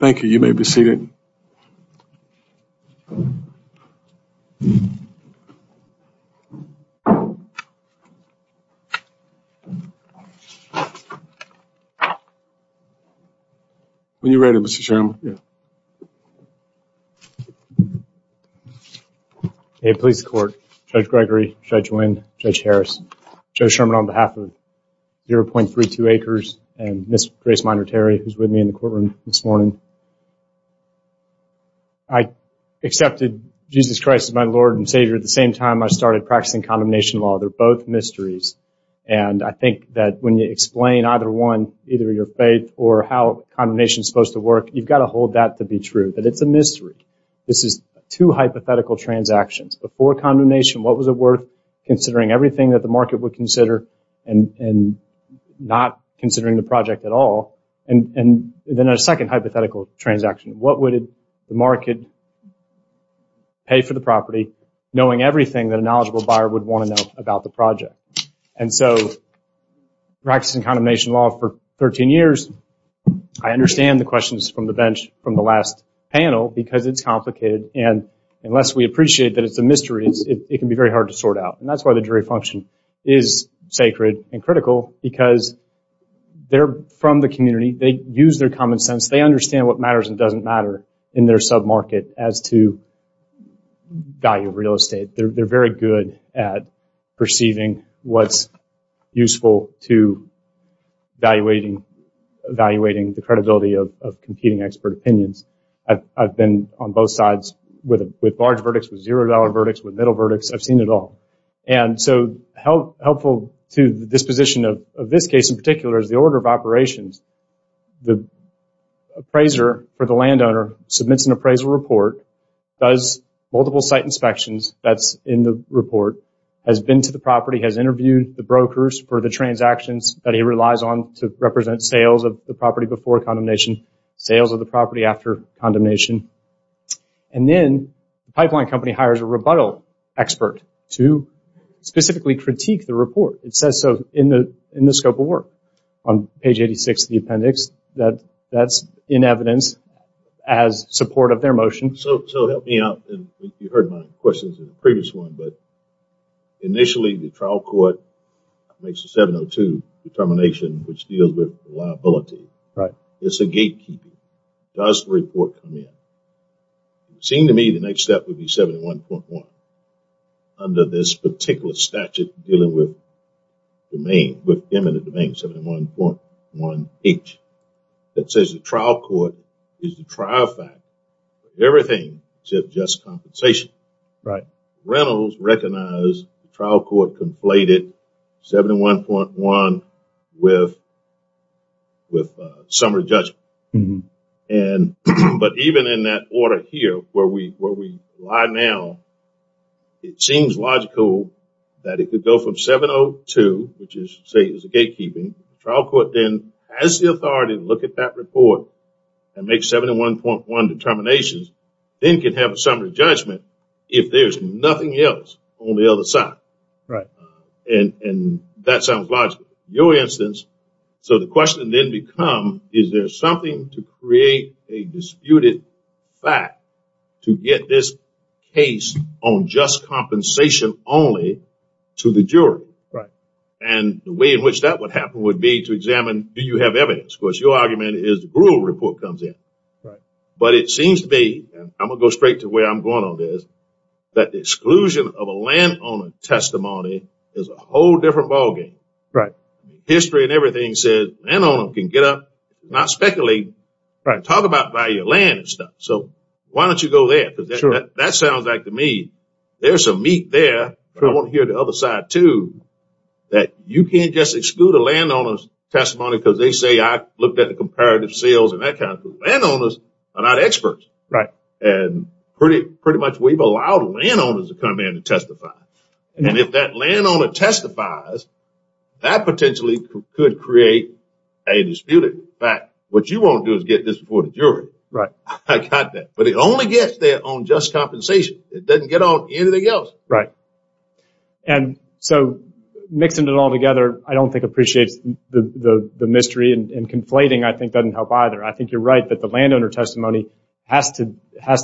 Thank you. You may be seated. When you're ready, Mr. Chairman. Hey Police Court, Judge Gregory, Judge Wynn, Judge Harris, Joe Sherman on behalf of 0.32 Acres, and Ms. Grace Minor Terry who's with me in the courtroom this morning. I accepted Jesus Christ as my Lord and Savior at the same time I started practicing condemnation law. They're both mysteries. And I think that when you explain either one, either your faith or how condemnation is supposed to work, you've got to hold that to be true, that it's a mystery. This is two hypothetical transactions. Before condemnation, what was it worth considering everything that the market would consider and not considering the project at all? And then a second hypothetical transaction, what would the market pay for the property knowing everything that a knowledgeable buyer would want to know about the project? And so practicing condemnation law for 13 years, I understand the questions from the bench from the last panel because it's complicated. And unless we appreciate that it's a mystery, it can be very hard to sort out. And that's why the jury function is sacred and critical because they're from the community. They use their common sense. They understand what matters and doesn't matter in their sub-market as to value of real estate. They're very good at perceiving what's useful to evaluating the credibility of competing expert opinions. I've been on both sides with large verdicts, with zero dollar verdicts, with middle verdicts. I've seen it all. And so helpful to the disposition of this case in particular is the order of operations. The appraiser for the landowner submits an appraisal report, does multiple site inspections. That's in the report. Has been to the property, has interviewed the brokers for the transactions that he relies on to represent sales of the property before condemnation, sales of the property after condemnation. And then the pipeline company hires a rebuttal expert to specifically critique the report. It says so in the scope of work on page 86 of the appendix. That's in evidence as support of their motion. So help me out. You heard my questions in the previous one, but initially the trial court makes a 702 determination which deals with liability. Right. It's a gatekeeper. Does the report come in? It seemed to me the next step would be 71.1 under this particular statute dealing with domain, with eminent domain, 71.1H. It says the trial court is the trial factor for everything except just compensation. Right. Reynolds recognized the trial court completed 71.1 with summary judgment. But even in that order here where we lie now, it seems logical that it could go from 702, which is to say it's a gatekeeping. The trial court then has the authority to look at that report and make 71.1 determinations, then can have a summary judgment if there's nothing else on the other side. And that sounds logical. In your instance, so the question then becomes is there something to create a disputed fact to get this case on just compensation only to the jury? Right. And the way in which that would happen would be to examine do you have evidence. Of course, your argument is the brutal report comes in. Right. But it seems to me, I'm going to go straight to where I'm going on this, that the exclusion of a landowner testimony is a whole different ballgame. History and everything says a landowner can get up, not speculate, talk about value of land and stuff. So why don't you go there? Because that sounds like to me there's some meat there. I want to hear the other side too, that you can't just exclude a landowner's testimony because they say I looked at the comparative sales and that kind of thing. Landowners are not experts. And pretty much we've allowed landowners to come in and testify. And if that landowner testifies, that potentially could create a disputed fact. What you want to do is get this before the jury. Right. I got that. But it only gets there on just compensation. It doesn't get on anything else. Right. And so mixing it all together I don't think appreciates the mystery and conflating I think doesn't help either. I think you're right that the landowner testimony has to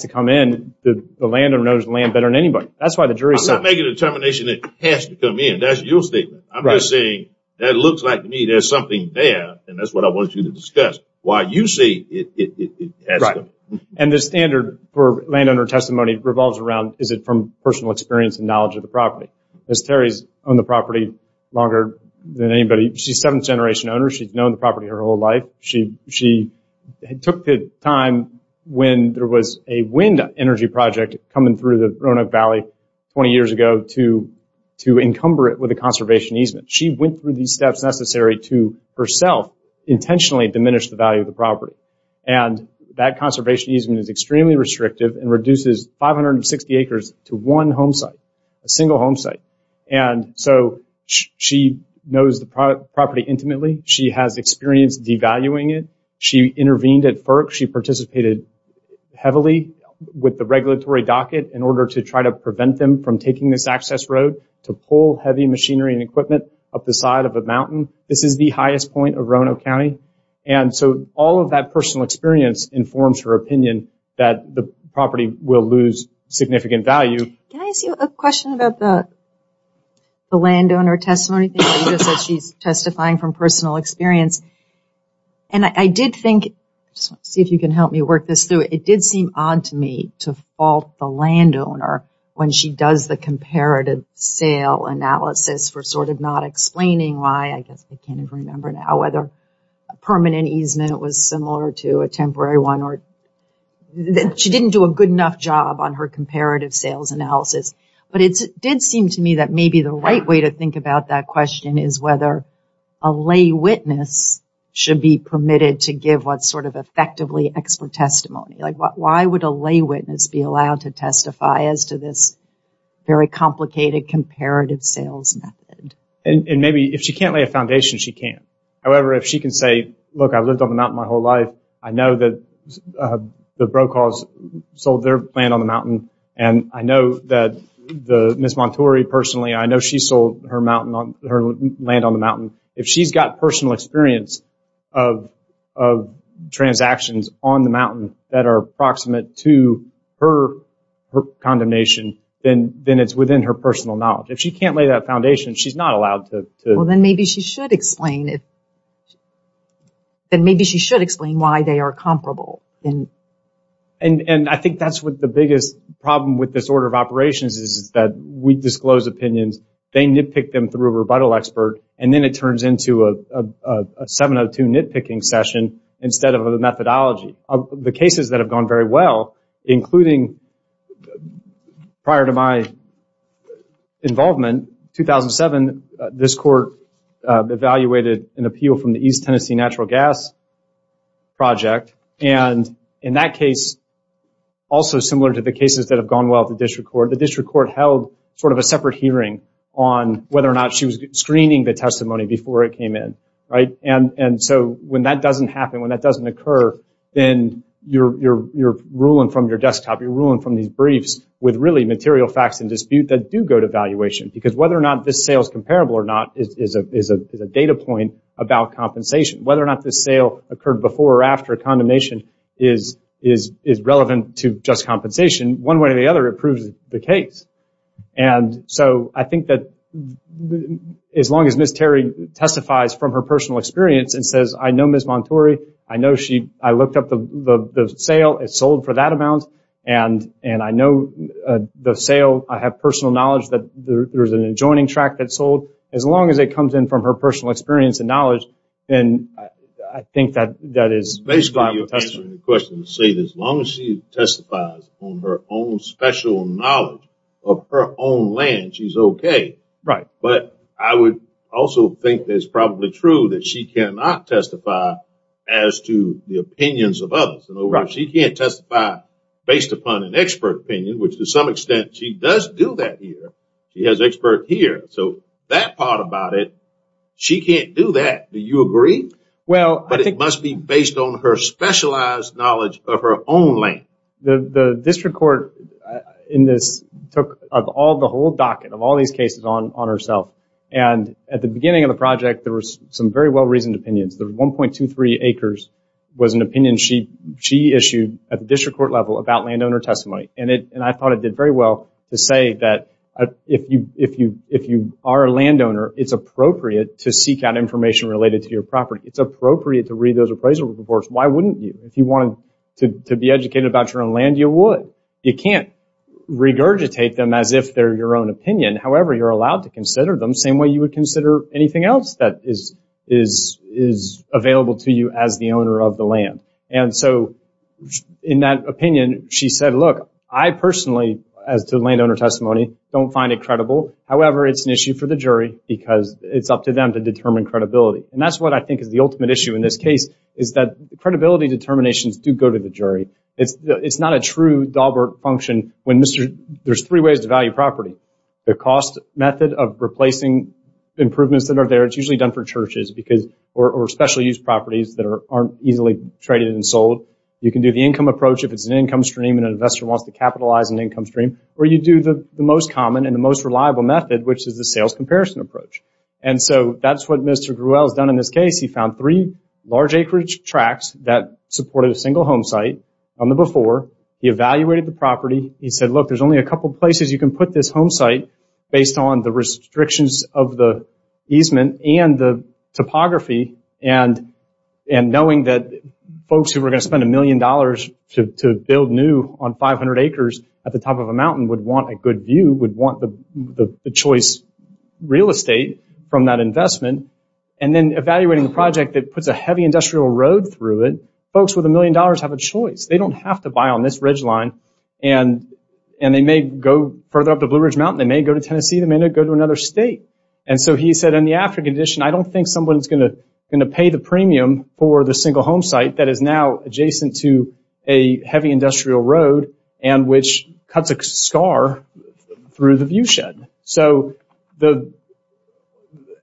come in. The landowner knows the land better than anybody. I'm not making a determination that it has to come in. That's your statement. I'm just saying that it looks like to me there's something there. And that's what I want you to discuss. Why you say it has to come in. And the standard for landowner testimony revolves around is it from personal experience and knowledge of the property. Ms. Terry has owned the property longer than anybody. She's a seventh generation owner. She's known the property her whole life. She took the time when there was a wind energy project coming through the Roanoke Valley 20 years ago to encumber it with a conservation easement. She went through the steps necessary to herself intentionally diminish the value of the property. And that conservation easement is extremely restrictive and reduces 560 acres to one home site, a single home site. And so she knows the property intimately. She has experience devaluing it. She intervened at FERC. She participated heavily with the regulatory docket in order to try to prevent them from taking this access road to pull heavy machinery and equipment up the side of a mountain. This is the highest point of Roanoke County. And so all of that personal experience informs her opinion that the property will lose significant value. Can I ask you a question about the landowner testimony? You said she's testifying from personal experience. And I did think, see if you can help me work this through. It did seem odd to me to fault the landowner when she does the comparative sale analysis for sort of not explaining why. I guess I can't even remember now whether permanent easement was similar to a temporary one. She didn't do a good enough job on her comparative sales analysis. But it did seem to me that maybe the right way to think about that question is whether a lay witness should be permitted to give what sort of effectively expert testimony. Like why would a lay witness be allowed to testify as to this very complicated comparative sales method? And maybe if she can't lay a foundation, she can't. However, if she can say, look, I've lived on the mountain my whole life. I know that the Brokaws sold their land on the mountain. And I know that Ms. Monturi personally, I know she sold her land on the mountain. If she's got personal experience of transactions on the mountain that are approximate to her condemnation, then it's within her personal knowledge. If she can't lay that foundation, she's not allowed to. Well, then maybe she should explain. Then maybe she should explain why they are comparable. And I think that's what the biggest problem with this order of operations is that we disclose opinions. They nitpick them through a rebuttal expert. And then it turns into a 702 nitpicking session instead of a methodology. The cases that have gone very well, including prior to my involvement, 2007, this court evaluated an appeal from the East Tennessee Natural Gas Project. And in that case, also similar to the cases that have gone well at the district court, the district court held sort of a separate hearing on whether or not she was screening the testimony before it came in. And so when that doesn't happen, when that doesn't occur, then you're ruling from your desktop, you're ruling from these briefs with really material facts in dispute that do go to valuation. Because whether or not this sale is comparable or not is a data point about compensation. Whether or not this sale occurred before or after condemnation is relevant to just compensation. One way or the other, it proves the case. And so I think that as long as Ms. Terry testifies from her personal experience and says, I know Ms. Monturi, I know I looked up the sale, it sold for that amount, and I know the sale, I have personal knowledge that there's an adjoining track that sold, as long as it comes in from her personal experience and knowledge, then I think that is justified. As long as she testifies on her own special knowledge of her own land, she's okay. But I would also think that it's probably true that she cannot testify as to the opinions of others. She can't testify based upon an expert opinion, which to some extent she does do that here. She has experts here. So that part about it, she can't do that. Do you agree? But it must be based on her specialized knowledge of her own land. The district court in this took the whole docket of all these cases on herself. And at the beginning of the project, there were some very well-reasoned opinions. The 1.23 acres was an opinion she issued at the district court level about landowner testimony. And I thought it did very well to say that if you are a landowner, it's appropriate to seek out information related to your property. It's appropriate to read those appraisal reports. Why wouldn't you? If you wanted to be educated about your own land, you would. You can't regurgitate them as if they're your own opinion. However, you're allowed to consider them the same way you would consider anything else that is available to you as the owner of the land. And so in that opinion, she said, look, I personally, as to landowner testimony, don't find it credible. However, it's an issue for the jury because it's up to them to determine credibility. And that's what I think is the ultimate issue in this case is that credibility determinations do go to the jury. It's not a true Dahlberg function when there's three ways to value property. The cost method of replacing improvements that are there, it's usually done for churches or special use properties that aren't easily traded and sold. You can do the income approach if it's an income stream and an investor wants to capitalize an income stream. Or you do the most common and the most reliable method, which is the sales comparison approach. And so that's what Mr. Gruel has done in this case. He found three large acreage tracts that supported a single home site on the before. He evaluated the property. He said, look, there's only a couple places you can put this home site based on the restrictions of the easement and the topography. And knowing that folks who were going to spend a million dollars to build new on 500 acres at the top of a mountain would want a good view, would want the choice real estate from that investment. And then evaluating the project that puts a heavy industrial road through it, folks with a million dollars have a choice. They don't have to buy on this ridgeline. And they may go further up the Blue Ridge Mountain. They may go to Tennessee. They may go to another state. And so he said in the after condition, I don't think someone is going to pay the premium for the single home site that is now adjacent to a heavy industrial road and which cuts a scar through the view shed. So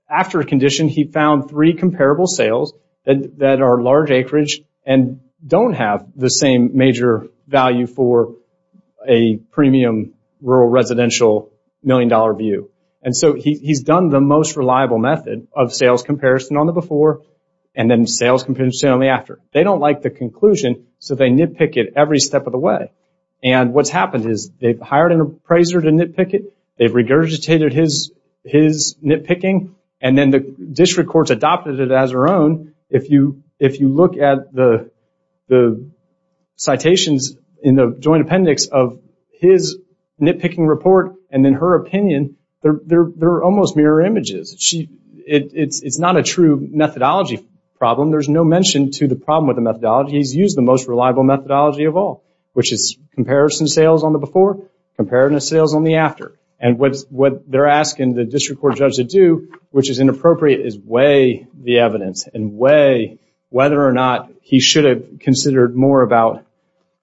after a condition, he found three comparable sales that are large acreage and don't have the same major value for a premium rural residential million dollar view. And so he's done the most reliable method of sales comparison on the before and then sales comparison on the after. They don't like the conclusion, so they nitpick it every step of the way. And what's happened is they've hired an appraiser to nitpick it. They've regurgitated his nitpicking. And then the district courts adopted it as their own. If you look at the citations in the joint appendix of his nitpicking report and then her opinion, they're almost mirror images. It's not a true methodology problem. There's no mention to the problem with the methodology. He's used the most reliable methodology of all, which is comparison sales on the before, comparison sales on the after. And what they're asking the district court judge to do, which is inappropriate, is weigh the evidence and weigh whether or not he should have considered more about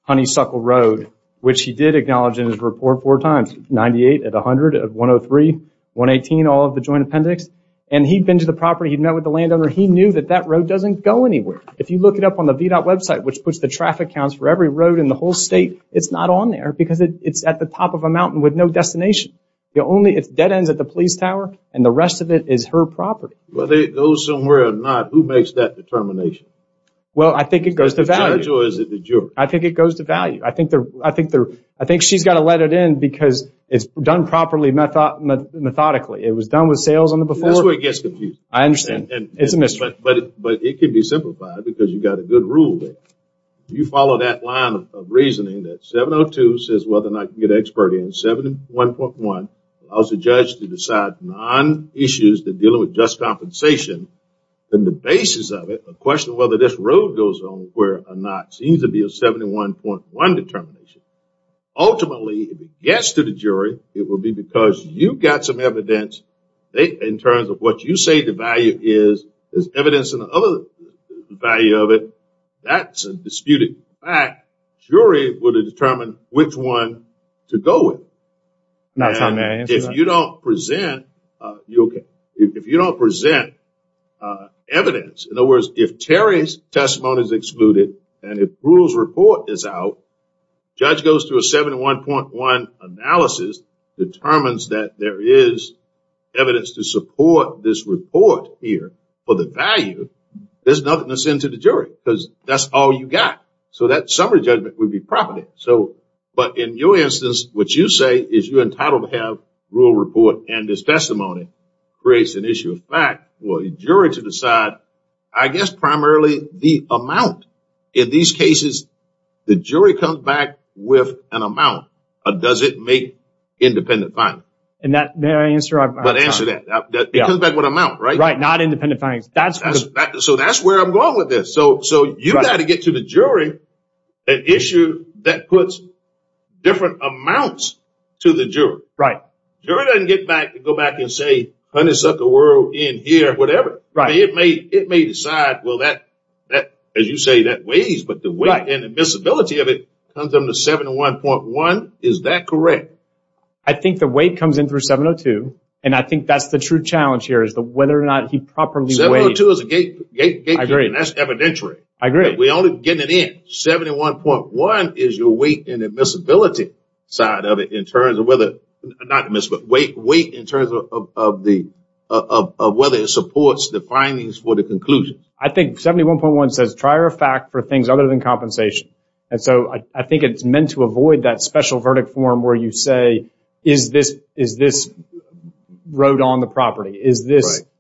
Honeysuckle Road, which he did acknowledge in his report four times, 98 of 100, 103, 118, all of the joint appendix. And he'd been to the property. He'd met with the landowner. He knew that that road doesn't go anywhere. If you look it up on the VDOT website, which puts the traffic counts for every road in the whole state, it's not on there because it's at the top of a mountain with no destination. It's dead ends at the police tower, and the rest of it is her property. Whether it goes somewhere or not, who makes that determination? Well, I think it goes to value. Is it the judge or is it the juror? I think it goes to value. I think she's got to let it in because it's done properly methodically. It was done with sales on the before. That's where it gets confusing. I understand. It's a mystery. But it can be simplified because you've got a good rule there. You follow that line of reasoning that 702 says whether or not you can get an expert in. 71.1 allows the judge to decide non-issues that deal with just compensation. And the basis of it, a question of whether this road goes on where or not, seems to be a 71.1 determination. Ultimately, if it gets to the jury, it will be because you've got some evidence in terms of what you say the value is. There's evidence in the other value of it. That's a disputed fact. Jury will determine which one to go with. If you don't present evidence, in other words, if Terry's testimony is excluded and if Brutal's report is out, judge goes to a 71.1 analysis, determines that there is evidence to support this report here for the value, there's nothing to send to the jury because that's all you've got. So that summary judgment would be property. But in your instance, what you say is you're entitled to have a rule report and this testimony creates an issue of fact for a jury to decide, I guess, primarily the amount. In these cases, the jury comes back with an amount. Does it make independent findings? May I answer? Answer that. It comes back with an amount, right? Right. Not independent findings. So that's where I'm going with this. So you've got to get to the jury an issue that puts different amounts to the jury. Right. Jury doesn't go back and say, honeysuckle world in here, whatever. It may decide, well, as you say, that weighs. But the weight and admissibility of it comes from the 71.1. Is that correct? I think the weight comes in through 702, and I think that's the true challenge here is whether or not he properly weighed. 702 is a gatekeeper, and that's evidentiary. I agree. We're only getting it in. 71.1 is your weight and admissibility side of it in terms of whether, not admissibility, weight in terms of whether it supports the findings for the conclusion. I think 71.1 says trier of fact for things other than compensation. And so I think it's meant to avoid that special verdict form where you say, is this road on the property?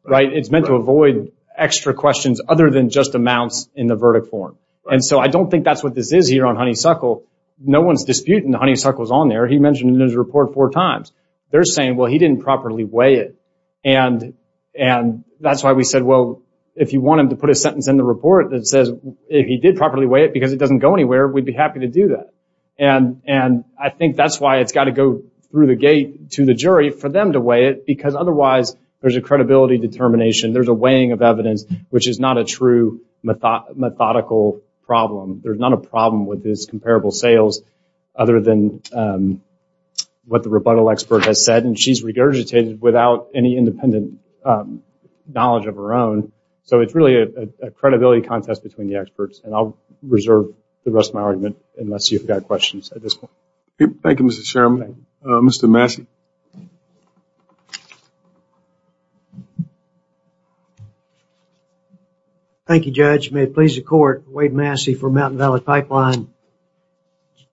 Right. It's meant to avoid extra questions other than just amounts in the verdict form. And so I don't think that's what this is here on honeysuckle. No one's disputing the honeysuckles on there. He mentioned it in his report four times. They're saying, well, he didn't properly weigh it. And that's why we said, well, if you want him to put a sentence in the report that says if he did properly weigh it because it doesn't go anywhere, we'd be happy to do that. And I think that's why it's got to go through the gate to the jury for them to weigh it because otherwise there's a credibility determination, there's a weighing of evidence, which is not a true methodical problem. There's not a problem with this comparable sales other than what the rebuttal expert has said. And she's regurgitated without any independent knowledge of her own. So it's really a credibility contest between the experts. And I'll reserve the rest of my argument unless you've got questions at this point. Thank you, Mr. Chairman. Mr. Massey. Thank you, Judge. May it please the court. Wade Massey for Mountain Valley Pipeline.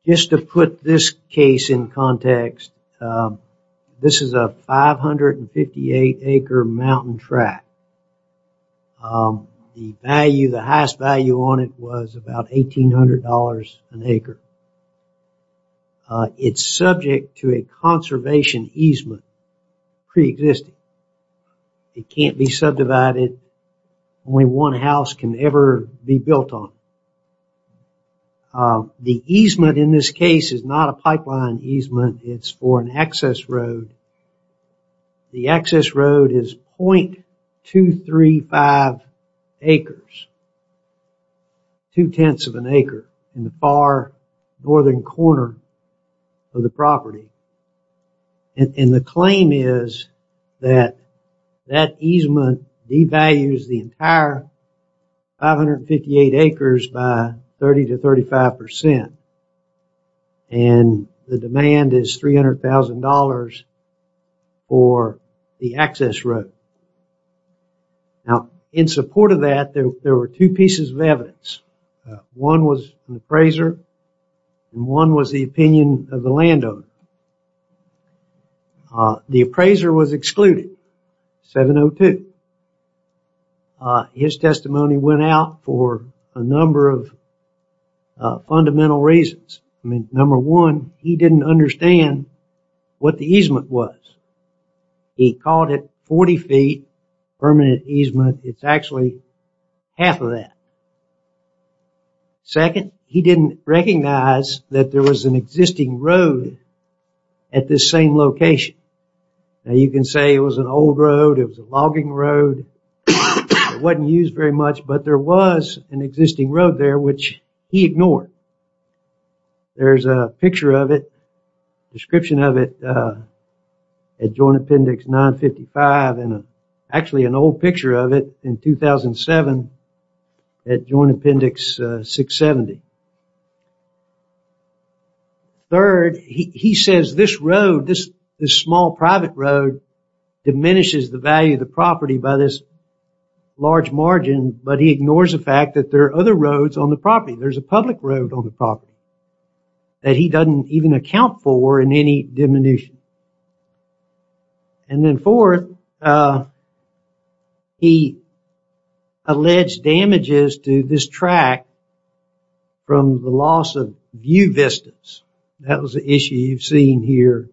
Just to put this case in context, this is a 558 acre mountain track. The value, the highest value on it was about $1,800 an acre. It's subject to a conservation easement pre-existing. It can't be subdivided. Only one house can ever be built on it. The easement in this case is not a pipeline easement. It's for an excess road. The excess road is .235 acres. Two-tenths of an acre in the far northern corner of the property. And the claim is that that easement devalues the entire 558 acres by 30-35%. And the demand is $300,000 for the excess road. Now, in support of that, there were two pieces of evidence. One was an appraiser. And one was the opinion of the landowner. The appraiser was excluded. 702. His testimony went out for a number of fundamental reasons. Number one, he didn't understand what the easement was. He called it 40 feet permanent easement. It's actually half of that. Second, he didn't recognize that there was an existing road at this same location. Now, you can say it was an old road. It was a logging road. It wasn't used very much, but there was an existing road there, which he ignored. There's a picture of it, a description of it, at Joint Appendix 955. Actually, an old picture of it in 2007 at Joint Appendix 670. Third, he says this road, this small private road, diminishes the value of the property by this large margin, but he ignores the fact that there are other roads on the property. There's a public road on the property that he doesn't even account for in any diminution. And then fourth, he alleged damages to this track from the loss of view vistas. That was the issue you've seen here.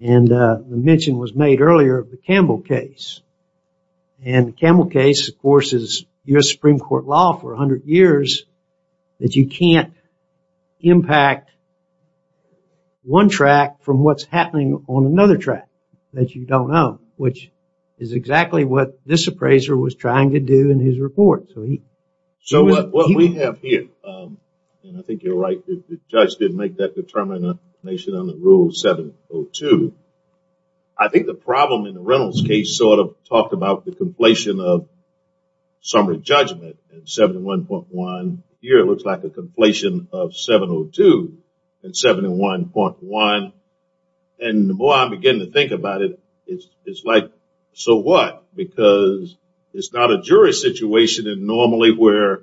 And the mention was made earlier of the Campbell case. And the Campbell case, of course, is U.S. Supreme Court law for 100 years that you can't impact one track from what's happening on another track that you don't own, which is exactly what this appraiser was trying to do in his report. So what we have here, and I think you're right, the judge didn't make that determination under Rule 702. I think the problem in the Reynolds case sort of talked about the completion of summary judgment in 71.1. Here it looks like a completion of 702 in 71.1. And the more I begin to think about it, it's like, so what? Because it's not a jury situation normally where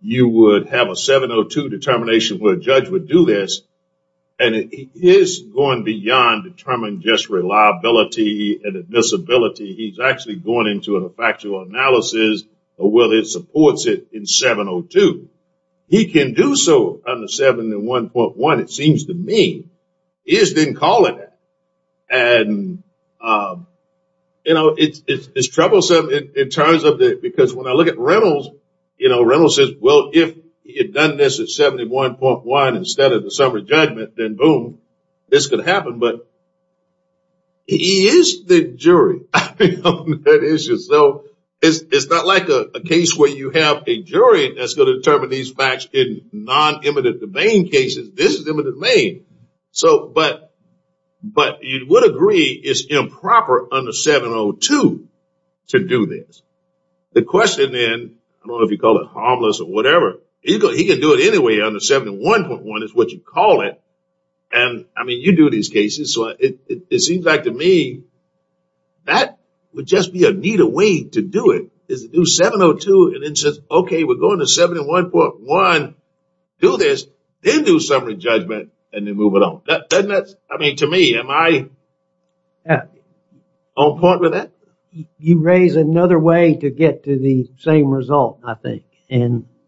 you would have a 702 determination where a judge would do this. And it is going beyond determining just reliability and admissibility. He's actually going into a factual analysis of whether it supports it in 702. He can do so under 71.1, it seems to me. He just didn't call it that. And, you know, it's troublesome in terms of the – because when I look at Reynolds, you know, Reynolds says, well, if he had done this at 71.1 instead of the summary judgment, then boom, this could happen. But he is the jury on that issue. So it's not like a case where you have a jury that's going to determine these facts in non-immediate domain cases. This is immediate domain. But you would agree it's improper under 702 to do this. The question then, I don't know if you call it harmless or whatever, he can do it anyway under 71.1 is what you call it. And, I mean, you do these cases. So it seems like to me that would just be a neater way to do it is to do 702 and then say, okay, we're going to 71.1, do this, then do summary judgment, and then move it on. Doesn't that – I mean, to me, am I on par with that? You raise another way to get to the same result, I think.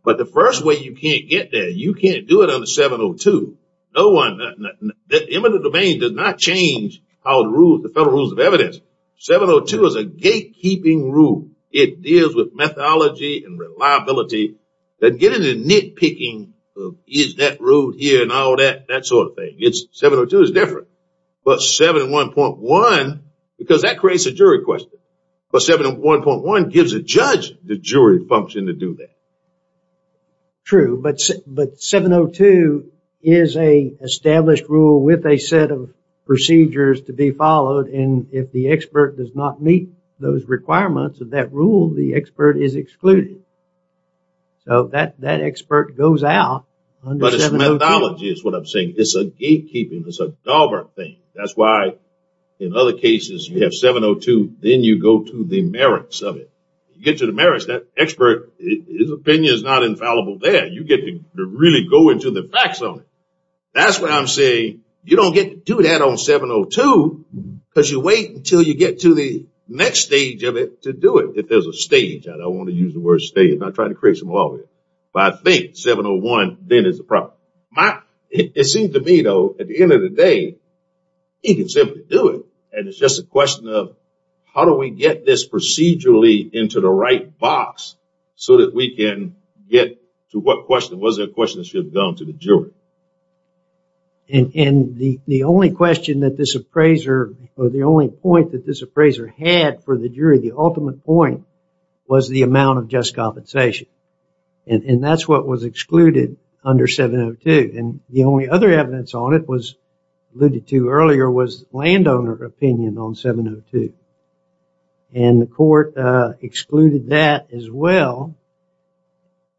But the first way you can't get there, you can't do it under 702. That immediate domain does not change the federal rules of evidence. 702 is a gatekeeping rule. It deals with methodology and reliability. And getting a nitpicking of is that rule here and all that, that sort of thing. 702 is different. But 71.1, because that creates a jury question. But 71.1 gives a judge the jury function to do that. True. But 702 is a established rule with a set of procedures to be followed. And if the expert does not meet those requirements of that rule, the expert is excluded. So that expert goes out under 702. But it's methodology is what I'm saying. It's a gatekeeping. It's a Dahlberg thing. That's why in other cases you have 702, then you go to the merits of it. That expert, his opinion is not infallible there. You get to really go into the facts on it. That's what I'm saying. You don't get to do that on 702 because you wait until you get to the next stage of it to do it. If there's a stage. I don't want to use the word stage. I'm not trying to create some logic. But I think 701 then is the problem. It seems to me, though, at the end of the day, you can simply do it. And it's just a question of how do we get this procedurally into the right box so that we can get to what question? Was it a question that should have gone to the jury? And the only question that this appraiser or the only point that this appraiser had for the jury, the ultimate point, was the amount of just compensation. And that's what was excluded under 702. And the only other evidence on it was alluded to earlier was landowner opinion on 702. And the court excluded that as well.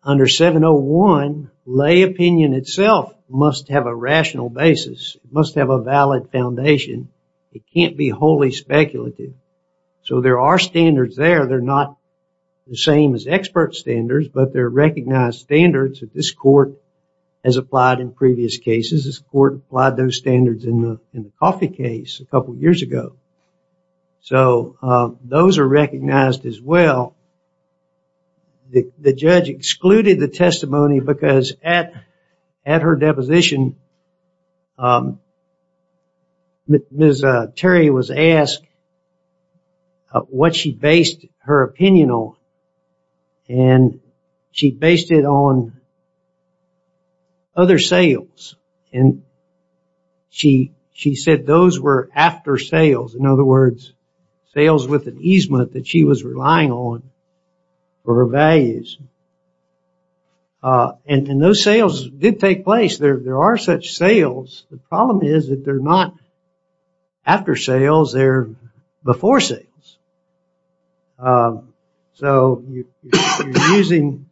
Under 701, lay opinion itself must have a rational basis, must have a valid foundation. It can't be wholly speculative. So there are standards there. They're not the same as expert standards, but they're recognized standards that this court has applied in previous cases. This court applied those standards in the coffee case a couple of years ago. So those are recognized as well. The judge excluded the testimony because at her deposition, Ms. Terry was asked what she based her opinion on. And she based it on other sales. And she said those were after sales, in other words, sales with an easement that she was relying on for her values. And those sales did take place. There are such sales. The problem is that they're not after sales. They're before sales. So if you're using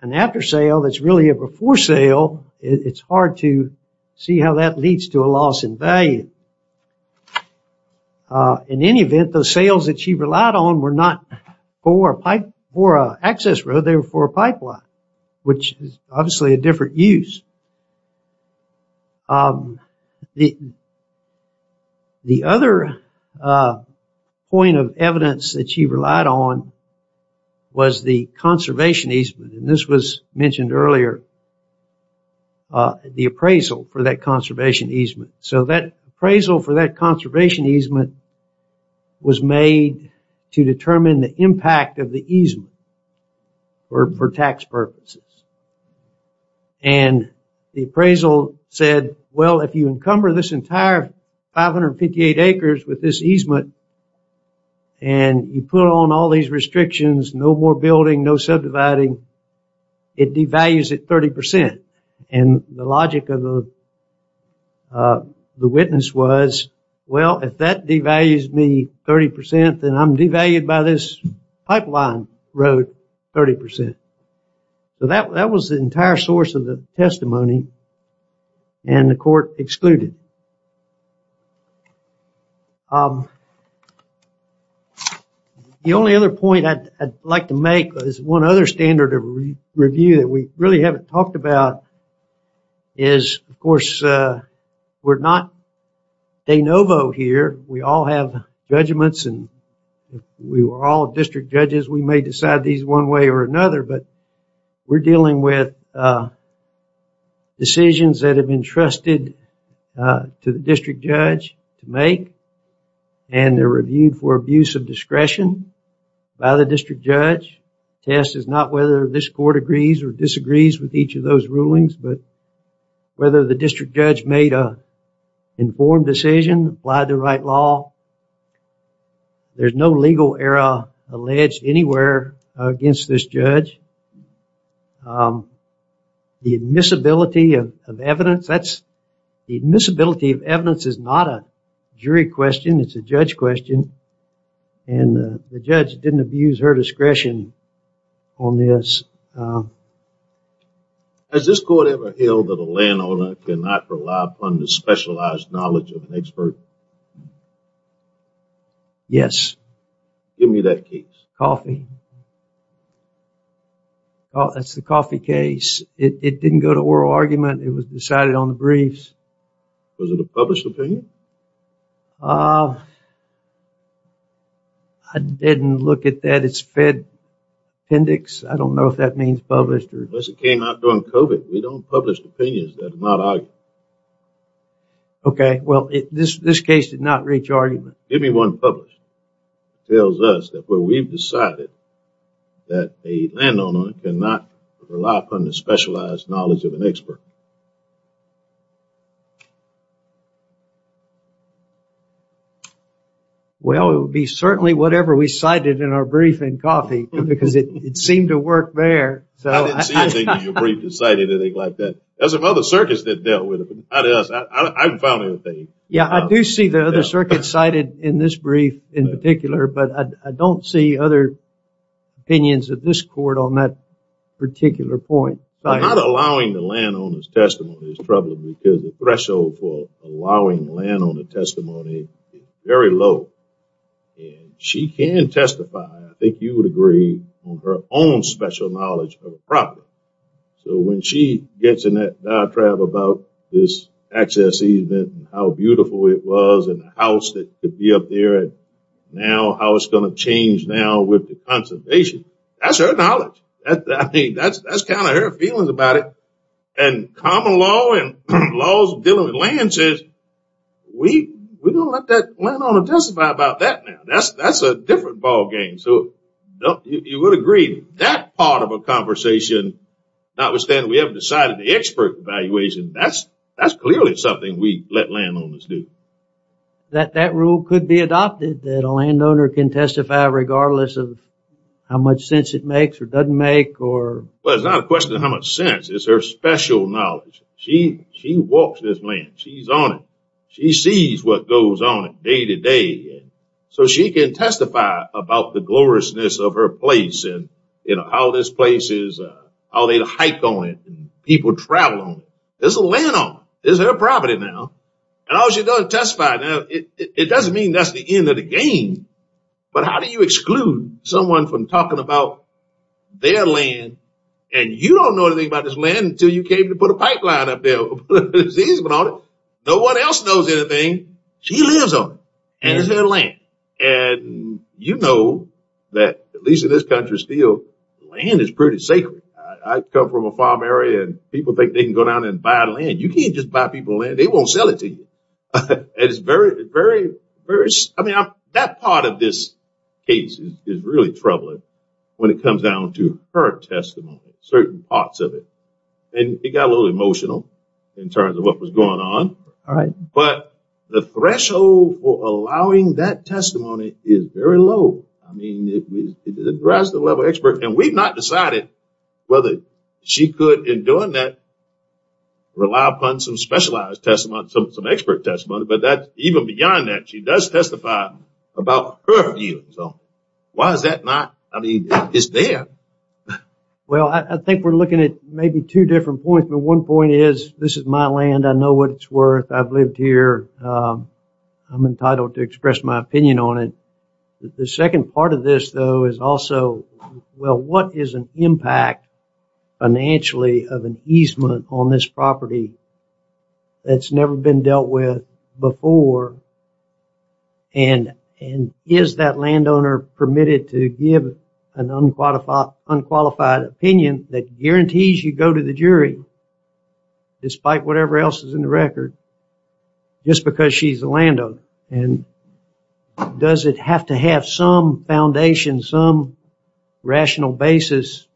an after sale that's really a before sale, it's hard to see how that leads to a loss in value. In any event, those sales that she relied on were not for an access road. They were for a pipeline, which is obviously a different use. The other point of evidence that she relied on was the conservation easement. And this was mentioned earlier, the appraisal for that conservation easement. So that appraisal for that conservation easement was made to determine the impact of the easement for tax purposes. And the appraisal said, well, if you encumber this entire 558 acres with this easement and you put on all these restrictions, no more building, no subdividing, it devalues at 30%. And the logic of the witness was, well, if that devalues me 30%, then I'm devalued by this pipeline road 30%. So that was the entire source of the testimony. And the court excluded. The only other point I'd like to make is one other standard of review that we really haven't talked about is, of course, we're not de novo here. We all have judgments. And if we were all district judges, we may decide these one way or another. But we're dealing with decisions that have been trusted to the district judge to make. And they're reviewed for abuse of discretion by the district judge. The test is not whether this court agrees or disagrees with each of those rulings, but whether the district judge made an informed decision, applied the right law. There's no legal error alleged anywhere against this judge. The admissibility of evidence, the admissibility of evidence is not a jury question. It's a judge question. And the judge didn't abuse her discretion on this. Has this court ever held that a landowner cannot rely upon the specialized knowledge of an expert? Yes. Give me that case. Coffee. Oh, that's the coffee case. It didn't go to oral argument. It was decided on the briefs. Was it a published opinion? I didn't look at that. It's Fed Index. I don't know if that means published. It came out during COVID. We don't publish opinions that are not argued. Okay. Well, this case did not reach argument. Give me one published. It tells us that where we've decided that a landowner cannot rely upon the specialized knowledge of an expert. Well, it would be certainly whatever we cited in our brief in coffee, because it seemed to work there. I didn't see anything in your brief that cited anything like that. There's some other circuits that dealt with it. I haven't found anything. Yeah, I do see the other circuits cited in this brief in particular, but I don't see other opinions of this court on that particular point. Not allowing the landowner's testimony is troubling, because the threshold for allowing landowner testimony is very low. And she can testify, I think you would agree, on her own special knowledge of the property. So when she gets in that diatribe about this access easement and how beautiful it was and the house that could be up there, and now how it's going to change now with the conservation, that's her knowledge. That's kind of her feelings about it. And common law and laws dealing with land says, we're going to let that landowner testify about that now. That's a different ballgame. So you would agree that part of a conversation, notwithstanding we haven't decided the expert evaluation, that's clearly something we let landowners do. That rule could be adopted, that a landowner can testify regardless of how much sense it makes or doesn't make. Well, it's not a question of how much sense. It's her special knowledge. She walks this land. She's on it. She sees what goes on it day to day. So she can testify about the gloriousness of her place and how this place is, how they hike on it and people travel on it. There's a landowner. This is her property now. And all she does is testify. Now, it doesn't mean that's the end of the game. But how do you exclude someone from talking about their land and you don't know anything about this land until you came to put a pipeline up there? No one else knows anything. She lives on it. And it's their land. And you know that, at least in this country still, land is pretty sacred. I come from a farm area and people think they can go down and buy land. You can't just buy people land. They won't sell it to you. That part of this case is really troubling when it comes down to her testimony, certain parts of it. And it got a little emotional in terms of what was going on. But the threshold for allowing that testimony is very low. I mean, it's a grass-to-the-level expert. And we've not decided whether she could, in doing that, rely upon some specialized testimony, some expert testimony. But even beyond that, she does testify about her view. So why is that not? I mean, it's there. Well, I think we're looking at maybe two different points. But one point is this is my land. I know what it's worth. I've lived here. I'm entitled to express my opinion on it. The second part of this, though, is also, well, what is an impact financially of an easement on this property that's never been dealt with before? And is that landowner permitted to give an unqualified opinion that guarantees you go to the jury, despite whatever else is in the record, just because she's the landowner? And does it have to have some foundation, some rational basis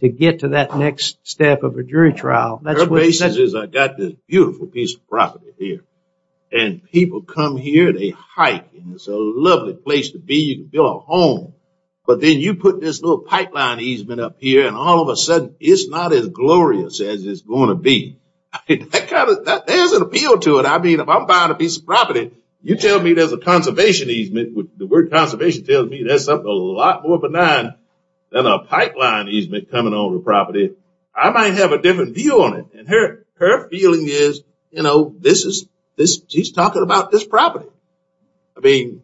to get to that next step of a jury trial? The basis is I've got this beautiful piece of property here. And people come here, they hike, and it's a lovely place to be. You can build a home. But then you put this little pipeline easement up here, and all of a sudden it's not as glorious as it's going to be. There's an appeal to it. I mean, if I'm buying a piece of property, you tell me there's a conservation easement. The word conservation tells me there's something a lot more benign than a pipeline easement coming on the property. I might have a different view on it. And her feeling is, you know, she's talking about this property. I mean,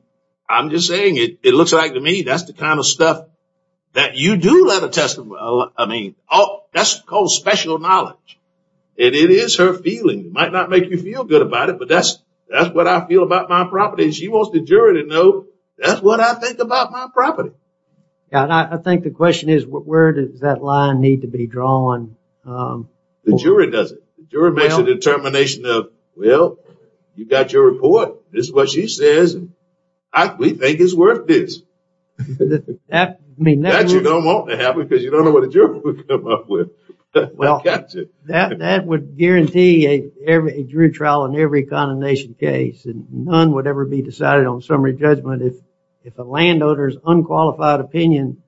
I'm just saying it. It looks like to me that's the kind of stuff that you do let her test. I mean, that's called special knowledge. And it is her feeling. It might not make you feel good about it, but that's what I feel about my property. She wants the jury to know that's what I think about my property. I think the question is where does that line need to be drawn? The jury does it. The jury makes a determination of, well, you've got your report. This is what she says. We think it's worth this. That you don't want to have because you don't know what the jury will come up with. Well, that would guarantee a jury trial in every condemnation case. And none would ever be decided on summary judgment if a landowner's unqualified opinion,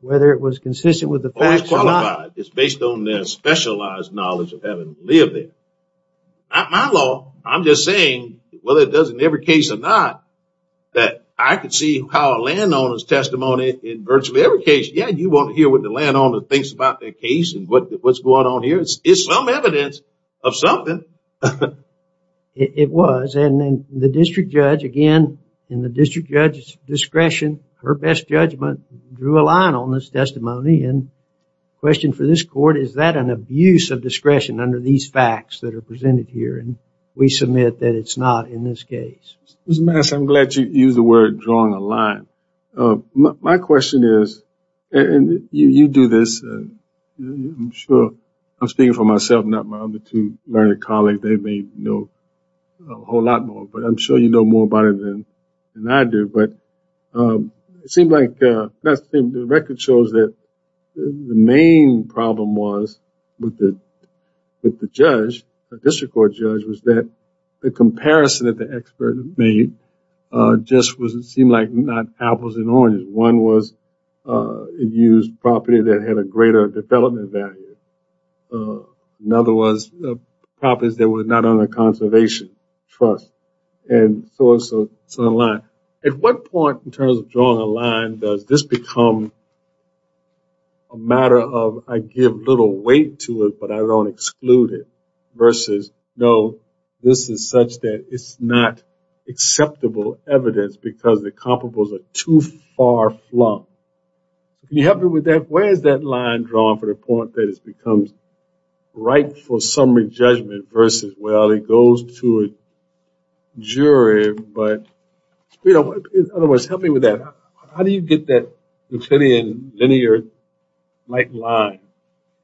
whether it was consistent with the facts or not. It's based on their specialized knowledge of having lived there. My law, I'm just saying, whether it does in every case or not, that I can see how a landowner's testimony in virtually every case, yeah, you want to hear what the landowner thinks about their case and what's going on here. It's some evidence of something. It was. And then the district judge, again, in the district judge's discretion, her best judgment drew a line on this testimony. And question for this court, is that an abuse of discretion under these facts that are presented here? And we submit that it's not in this case. I'm glad you used the word drawing a line. My question is, and you do this. I'm sure I'm speaking for myself, not my other two learned colleagues. They may know a whole lot more, but I'm sure you know more about it than I do. But it seemed like the record shows that the main problem was with the judge, the district court judge, was that the comparison that the expert made just seemed like not apples and oranges. One was an abused property that had a greater development value. Another was properties that were not under conservation trust. And so it's a line. At what point, in terms of drawing a line, does this become a matter of I give little weight to it, but I don't exclude it, versus no, this is such that it's not acceptable evidence because the comparables are too far flung? Can you help me with that? Where is that line drawn for the point that it becomes rightful summary judgment versus, well, it goes to a jury. But in other words, help me with that. How do you get that Euclidean, linear, like line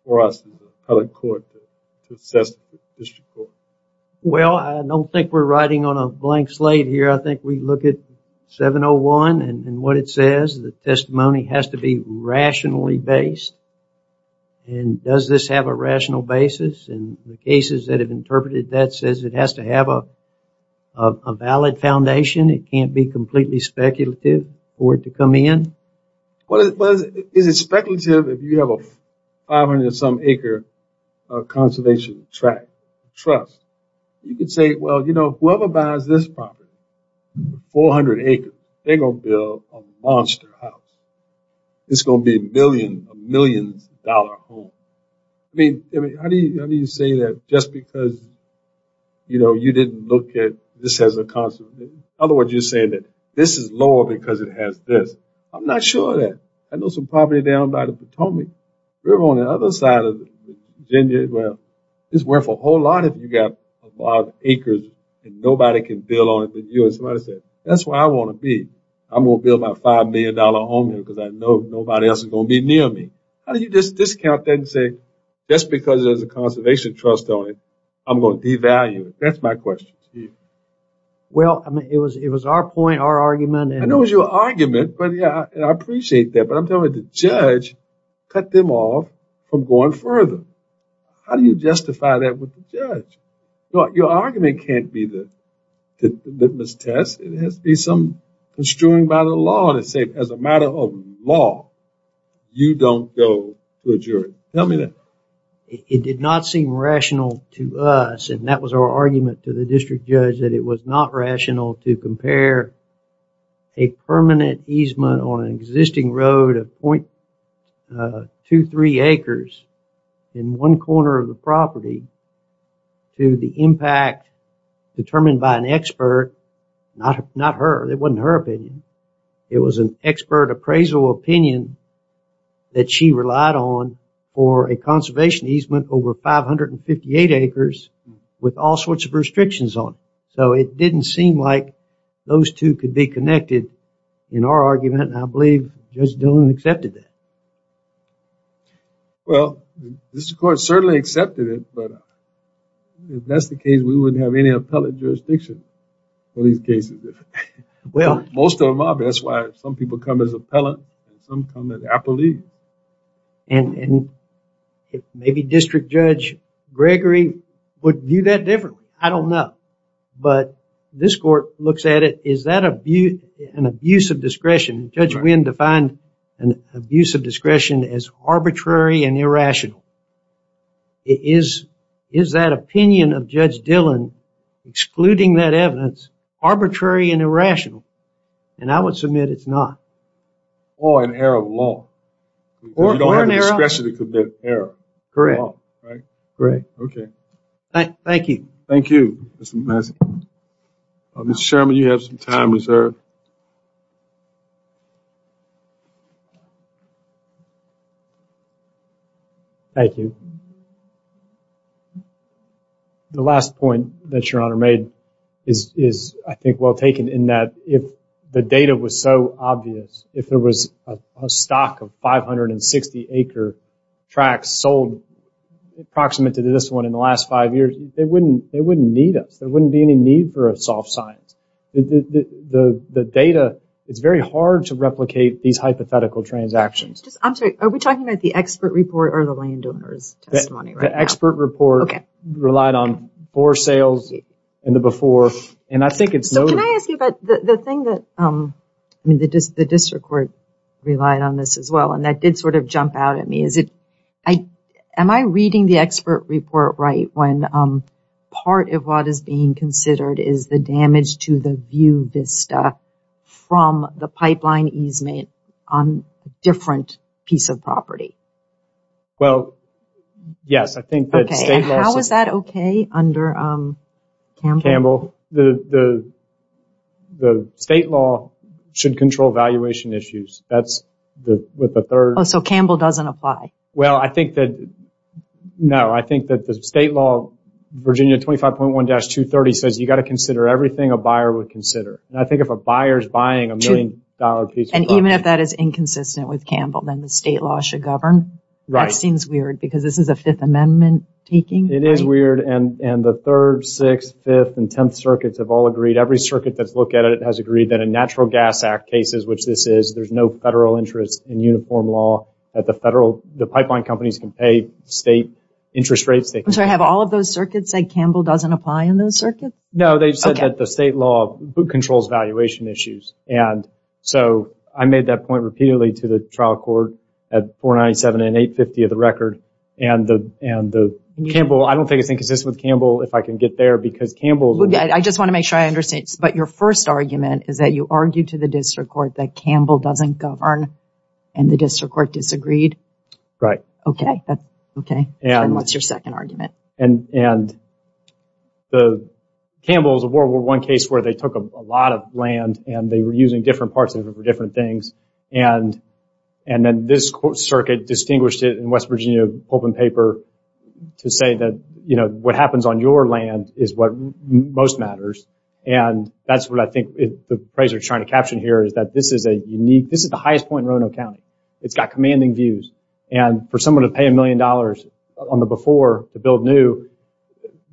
for us in the appellate court to assess the district court? Well, I don't think we're riding on a blank slate here. I think we look at 701 and what it says. The testimony has to be rationally based. And does this have a rational basis? And the cases that have interpreted that says it has to have a valid foundation. It can't be completely speculative for it to come in. Is it speculative if you have a 500-some acre conservation trust? You could say, well, you know, whoever buys this property, 400 acres, they're going to build a monster house. It's going to be a million dollar home. I mean, how do you say that just because, you know, this has a conservation, in other words, you're saying that this is lower because it has this. I'm not sure of that. I know some property down by the Potomac. River on the other side of Virginia, well, it's worth a whole lot if you got a lot of acres and nobody can build on it but you. And somebody said, that's where I want to be. I'm going to build my $5 million home here because I know nobody else is going to be near me. How do you just discount that and say just because there's a conservation trust on it, I'm going to devalue it? That's my question to you. Well, I mean, it was our point, our argument. I know it was your argument, but yeah, I appreciate that. But I'm telling you, the judge cut them off from going further. How do you justify that with the judge? Your argument can't be that it was tested. It has to be some construing by the law to say as a matter of law, you don't go to a jury. Tell me that. It did not seem rational to us. And that was our argument to the district judge that it was not rational to compare a permanent easement on an existing road of 0.23 acres in one corner of the property to the impact determined by an expert. Not her. It wasn't her opinion. It was an expert appraisal opinion that she relied on for a conservation easement over 558 acres with all sorts of restrictions on it. So it didn't seem like those two could be connected in our argument, and I believe Judge Dillon accepted that. Well, the district court certainly accepted it, but if that's the case, we wouldn't have any appellate jurisdiction for these cases. Most of them are. That's why some people come as appellant and some come as appellee. And maybe District Judge Gregory would view that differently. I don't know. But this court looks at it. Is that an abuse of discretion? Judge Wynn defined an abuse of discretion as arbitrary and irrational. Is that opinion of Judge Dillon, excluding that evidence, arbitrary and irrational? And I would submit it's not. Or an error of law. Or an error of law. You don't have the discretion to commit error. Correct. Okay. Thank you. Thank you, Mr. Mazza. Mr. Sherman, you have some time reserved. Thank you. The last point that Your Honor made is, I think, well taken in that if the data was so obvious, if there was a stock of 560 acre tracts sold, approximate to this one, in the last five years, they wouldn't need us. There wouldn't be any need for a soft science. The data, it's very hard to replicate these hypothetical transactions. I'm sorry. Are we talking about the expert report or the landowner's testimony? The expert report relied on poor sales and the before. And I think it's noted. Can I ask you about the thing that the district court relied on this as well? And that did sort of jump out at me. Am I reading the expert report right when part of what is being considered is the damage to the view vista from the pipeline easement on a different piece of property? Well, yes. Okay. And how is that okay under Campbell? Campbell, the state law should control valuation issues. That's with the third. Oh, so Campbell doesn't apply. Well, I think that, no. I think that the state law, Virginia 25.1-230, says you've got to consider everything a buyer would consider. And I think if a buyer is buying a million dollar piece of property. And even if that is inconsistent with Campbell, then the state law should govern. That seems weird because this is a Fifth Amendment taking. It is weird. And the Third, Sixth, Fifth, and Tenth Circuits have all agreed. Every circuit that's looked at it has agreed that in Natural Gas Act cases, which this is, there's no federal interest in uniform law. The pipeline companies can pay state interest rates. I'm sorry. Have all of those circuits said Campbell doesn't apply in those circuits? No, they've said that the state law controls valuation issues. And so I made that point repeatedly to the trial court at 497 and 850 of the record. And Campbell, I don't think it's inconsistent with Campbell, if I can get there. Because Campbell. I just want to make sure I understand. But your first argument is that you argued to the district court that Campbell doesn't govern. And the district court disagreed. Right. Okay. Okay. And what's your second argument? And Campbell is a World War I case where they took a lot of land and they were using different parts of it for different things. And then this circuit distinguished it in West Virginia open paper to say that, you know, what happens on your land is what most matters. And that's what I think the appraiser is trying to caption here is that this is a unique, this is the highest point in Roanoke County. It's got commanding views. And for someone to pay a million dollars on the before to build new,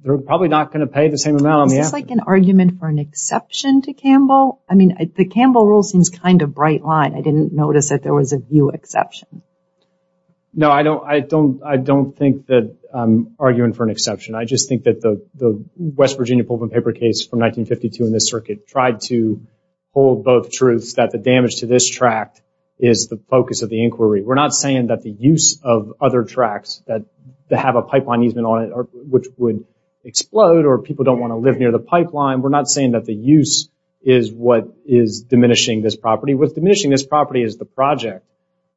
they're probably not going to pay the same amount on the after. Is this like an argument for an exception to Campbell? I mean, the Campbell rule seems kind of bright line. I didn't notice that there was a view exception. No, I don't think that I'm arguing for an exception. I just think that the West Virginia open paper case from 1952 in this circuit tried to hold both truths, that the damage to this tract is the focus of the inquiry. We're not saying that the use of other tracts that have a pipeline easement on it, which would explode or people don't want to live near the pipeline. We're not saying that the use is what is diminishing this property. What's diminishing this property is the project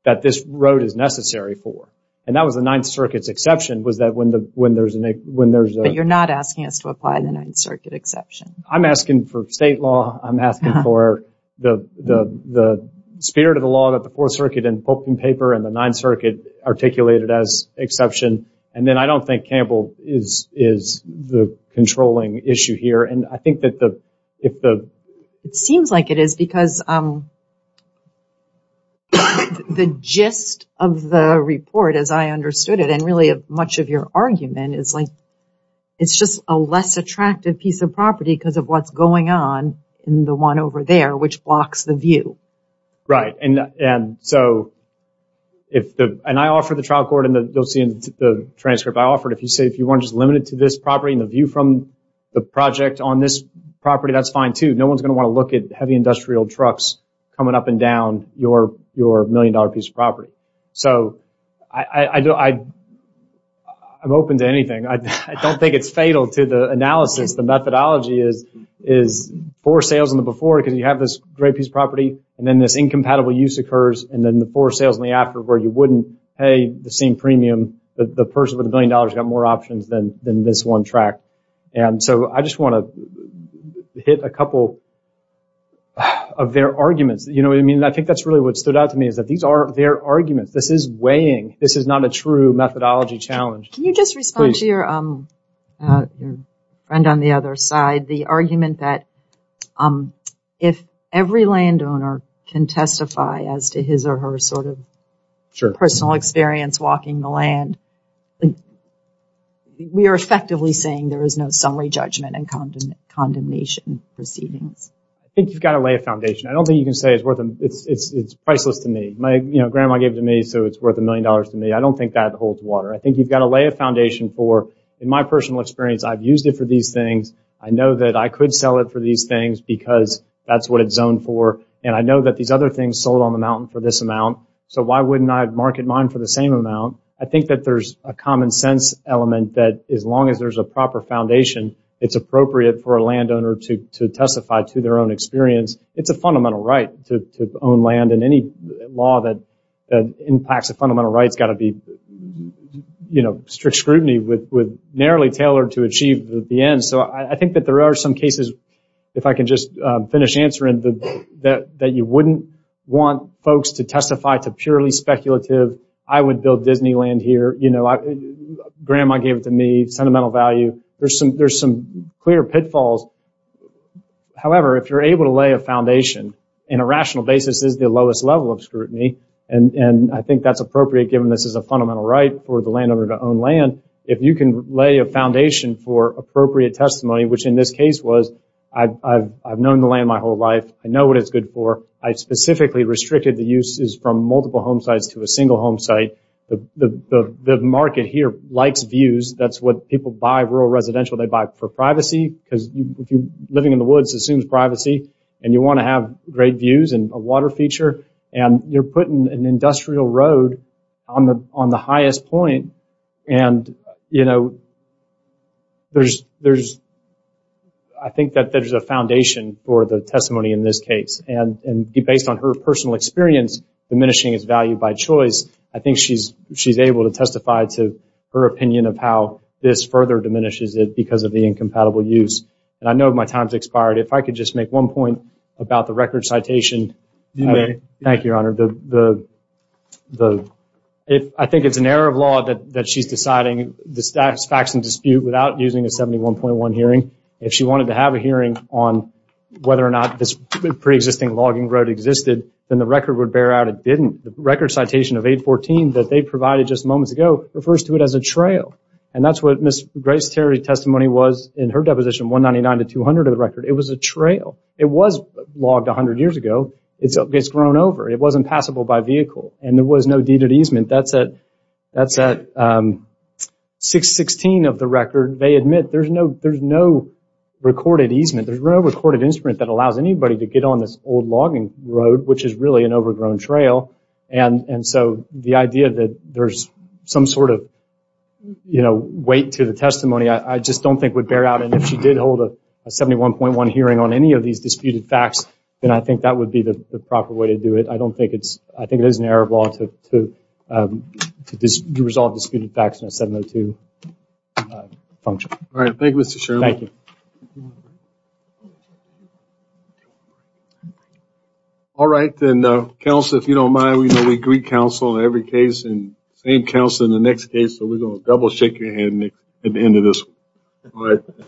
that this road is necessary for. And that was the Ninth Circuit's exception was that when there's a. But you're not asking us to apply the Ninth Circuit exception. I'm asking for state law. I'm asking for the spirit of the law that the Fourth Circuit and open paper and the Ninth Circuit articulated as exception. And then I don't think Campbell is the controlling issue here. And I think that if the. It seems like it is because the gist of the report, as I understood it, and really much of your argument is like it's just a less attractive piece of property because of what's going on in the one over there, which blocks the view. Right. And so if the and I offer the trial court and you'll see in the transcript I offered, if you say if you want just limited to this property and the view from the project on this property, that's fine, too. No one's going to want to look at heavy industrial trucks coming up and down your your million dollar piece of property. So I know I. I'm open to anything. I don't think it's fatal to the analysis. The methodology is is for sales in the before because you have this great piece of property and then this incompatible use occurs and then the for sales in the after where you wouldn't pay the same premium. The person with a billion dollars got more options than than this one track. And so I just want to hit a couple of their arguments. You know, I mean, I think that's really what stood out to me is that these are their arguments. This is weighing. This is not a true methodology challenge. Can you just respond to your friend on the other side? The argument that if every landowner can testify as to his or her sort of personal experience walking the land, we are effectively saying there is no summary judgment and condemn condemnation proceedings. I think you've got to lay a foundation. I don't think you can say it's worth it. It's priceless to me. My grandma gave it to me. So it's worth a million dollars to me. I don't think that holds water. I think you've got to lay a foundation for in my personal experience. I've used it for these things. I know that I could sell it for these things because that's what it's zoned for. And I know that these other things sold on the mountain for this amount. So why wouldn't I market mine for the same amount? I think that there's a common sense element that as long as there's a proper foundation, it's appropriate for a landowner to testify to their own experience. It's a fundamental right to own land. And any law that impacts a fundamental right has got to be strict scrutiny, narrowly tailored to achieve the end. So I think that there are some cases, if I can just finish answering, that you wouldn't want folks to testify to purely speculative, I would build Disneyland here, grandma gave it to me, sentimental value. There's some clear pitfalls. However, if you're able to lay a foundation, in a rational basis this is the lowest level of scrutiny, and I think that's appropriate given this is a fundamental right for the landowner to own land. If you can lay a foundation for appropriate testimony, which in this case was I've known the land my whole life. I know what it's good for. I specifically restricted the uses from multiple home sites to a single home site. The market here likes views. That's what people buy, rural residential, they buy for privacy because living in the woods assumes privacy. And you want to have great views and a water feature. And you're putting an industrial road on the highest point. And, you know, there's, I think that there's a foundation for the testimony in this case. And based on her personal experience, diminishing its value by choice, I think she's able to testify to her opinion of how this further diminishes it And I know my time's expired. If I could just make one point about the record citation. Thank you, Your Honor. I think it's an error of law that she's deciding the facts in dispute without using a 71.1 hearing. If she wanted to have a hearing on whether or not this preexisting logging road existed, then the record would bear out it didn't. The record citation of 814 that they provided just moments ago refers to it as a trail. And that's what Ms. Grace Terry's testimony was in her deposition 199 to 200 of the record. It was a trail. It was logged 100 years ago. It's grown over. It wasn't passable by vehicle. And there was no deeded easement. That's at 616 of the record. They admit there's no recorded easement. There's no recorded instrument that allows anybody to get on this old logging road, which is really an overgrown trail. And so the idea that there's some sort of weight to the testimony I just don't think would bear out. And if she did hold a 71.1 hearing on any of these disputed facts, then I think that would be the proper way to do it. I think it is an error of law to resolve disputed facts in a 702 function. All right. Thank you, Mr. Sherman. Thank you. All right. Then, counsel, if you don't mind, we agree counsel in every case. And same counsel in the next case. So we're going to double shake your hand at the end of this one. All right.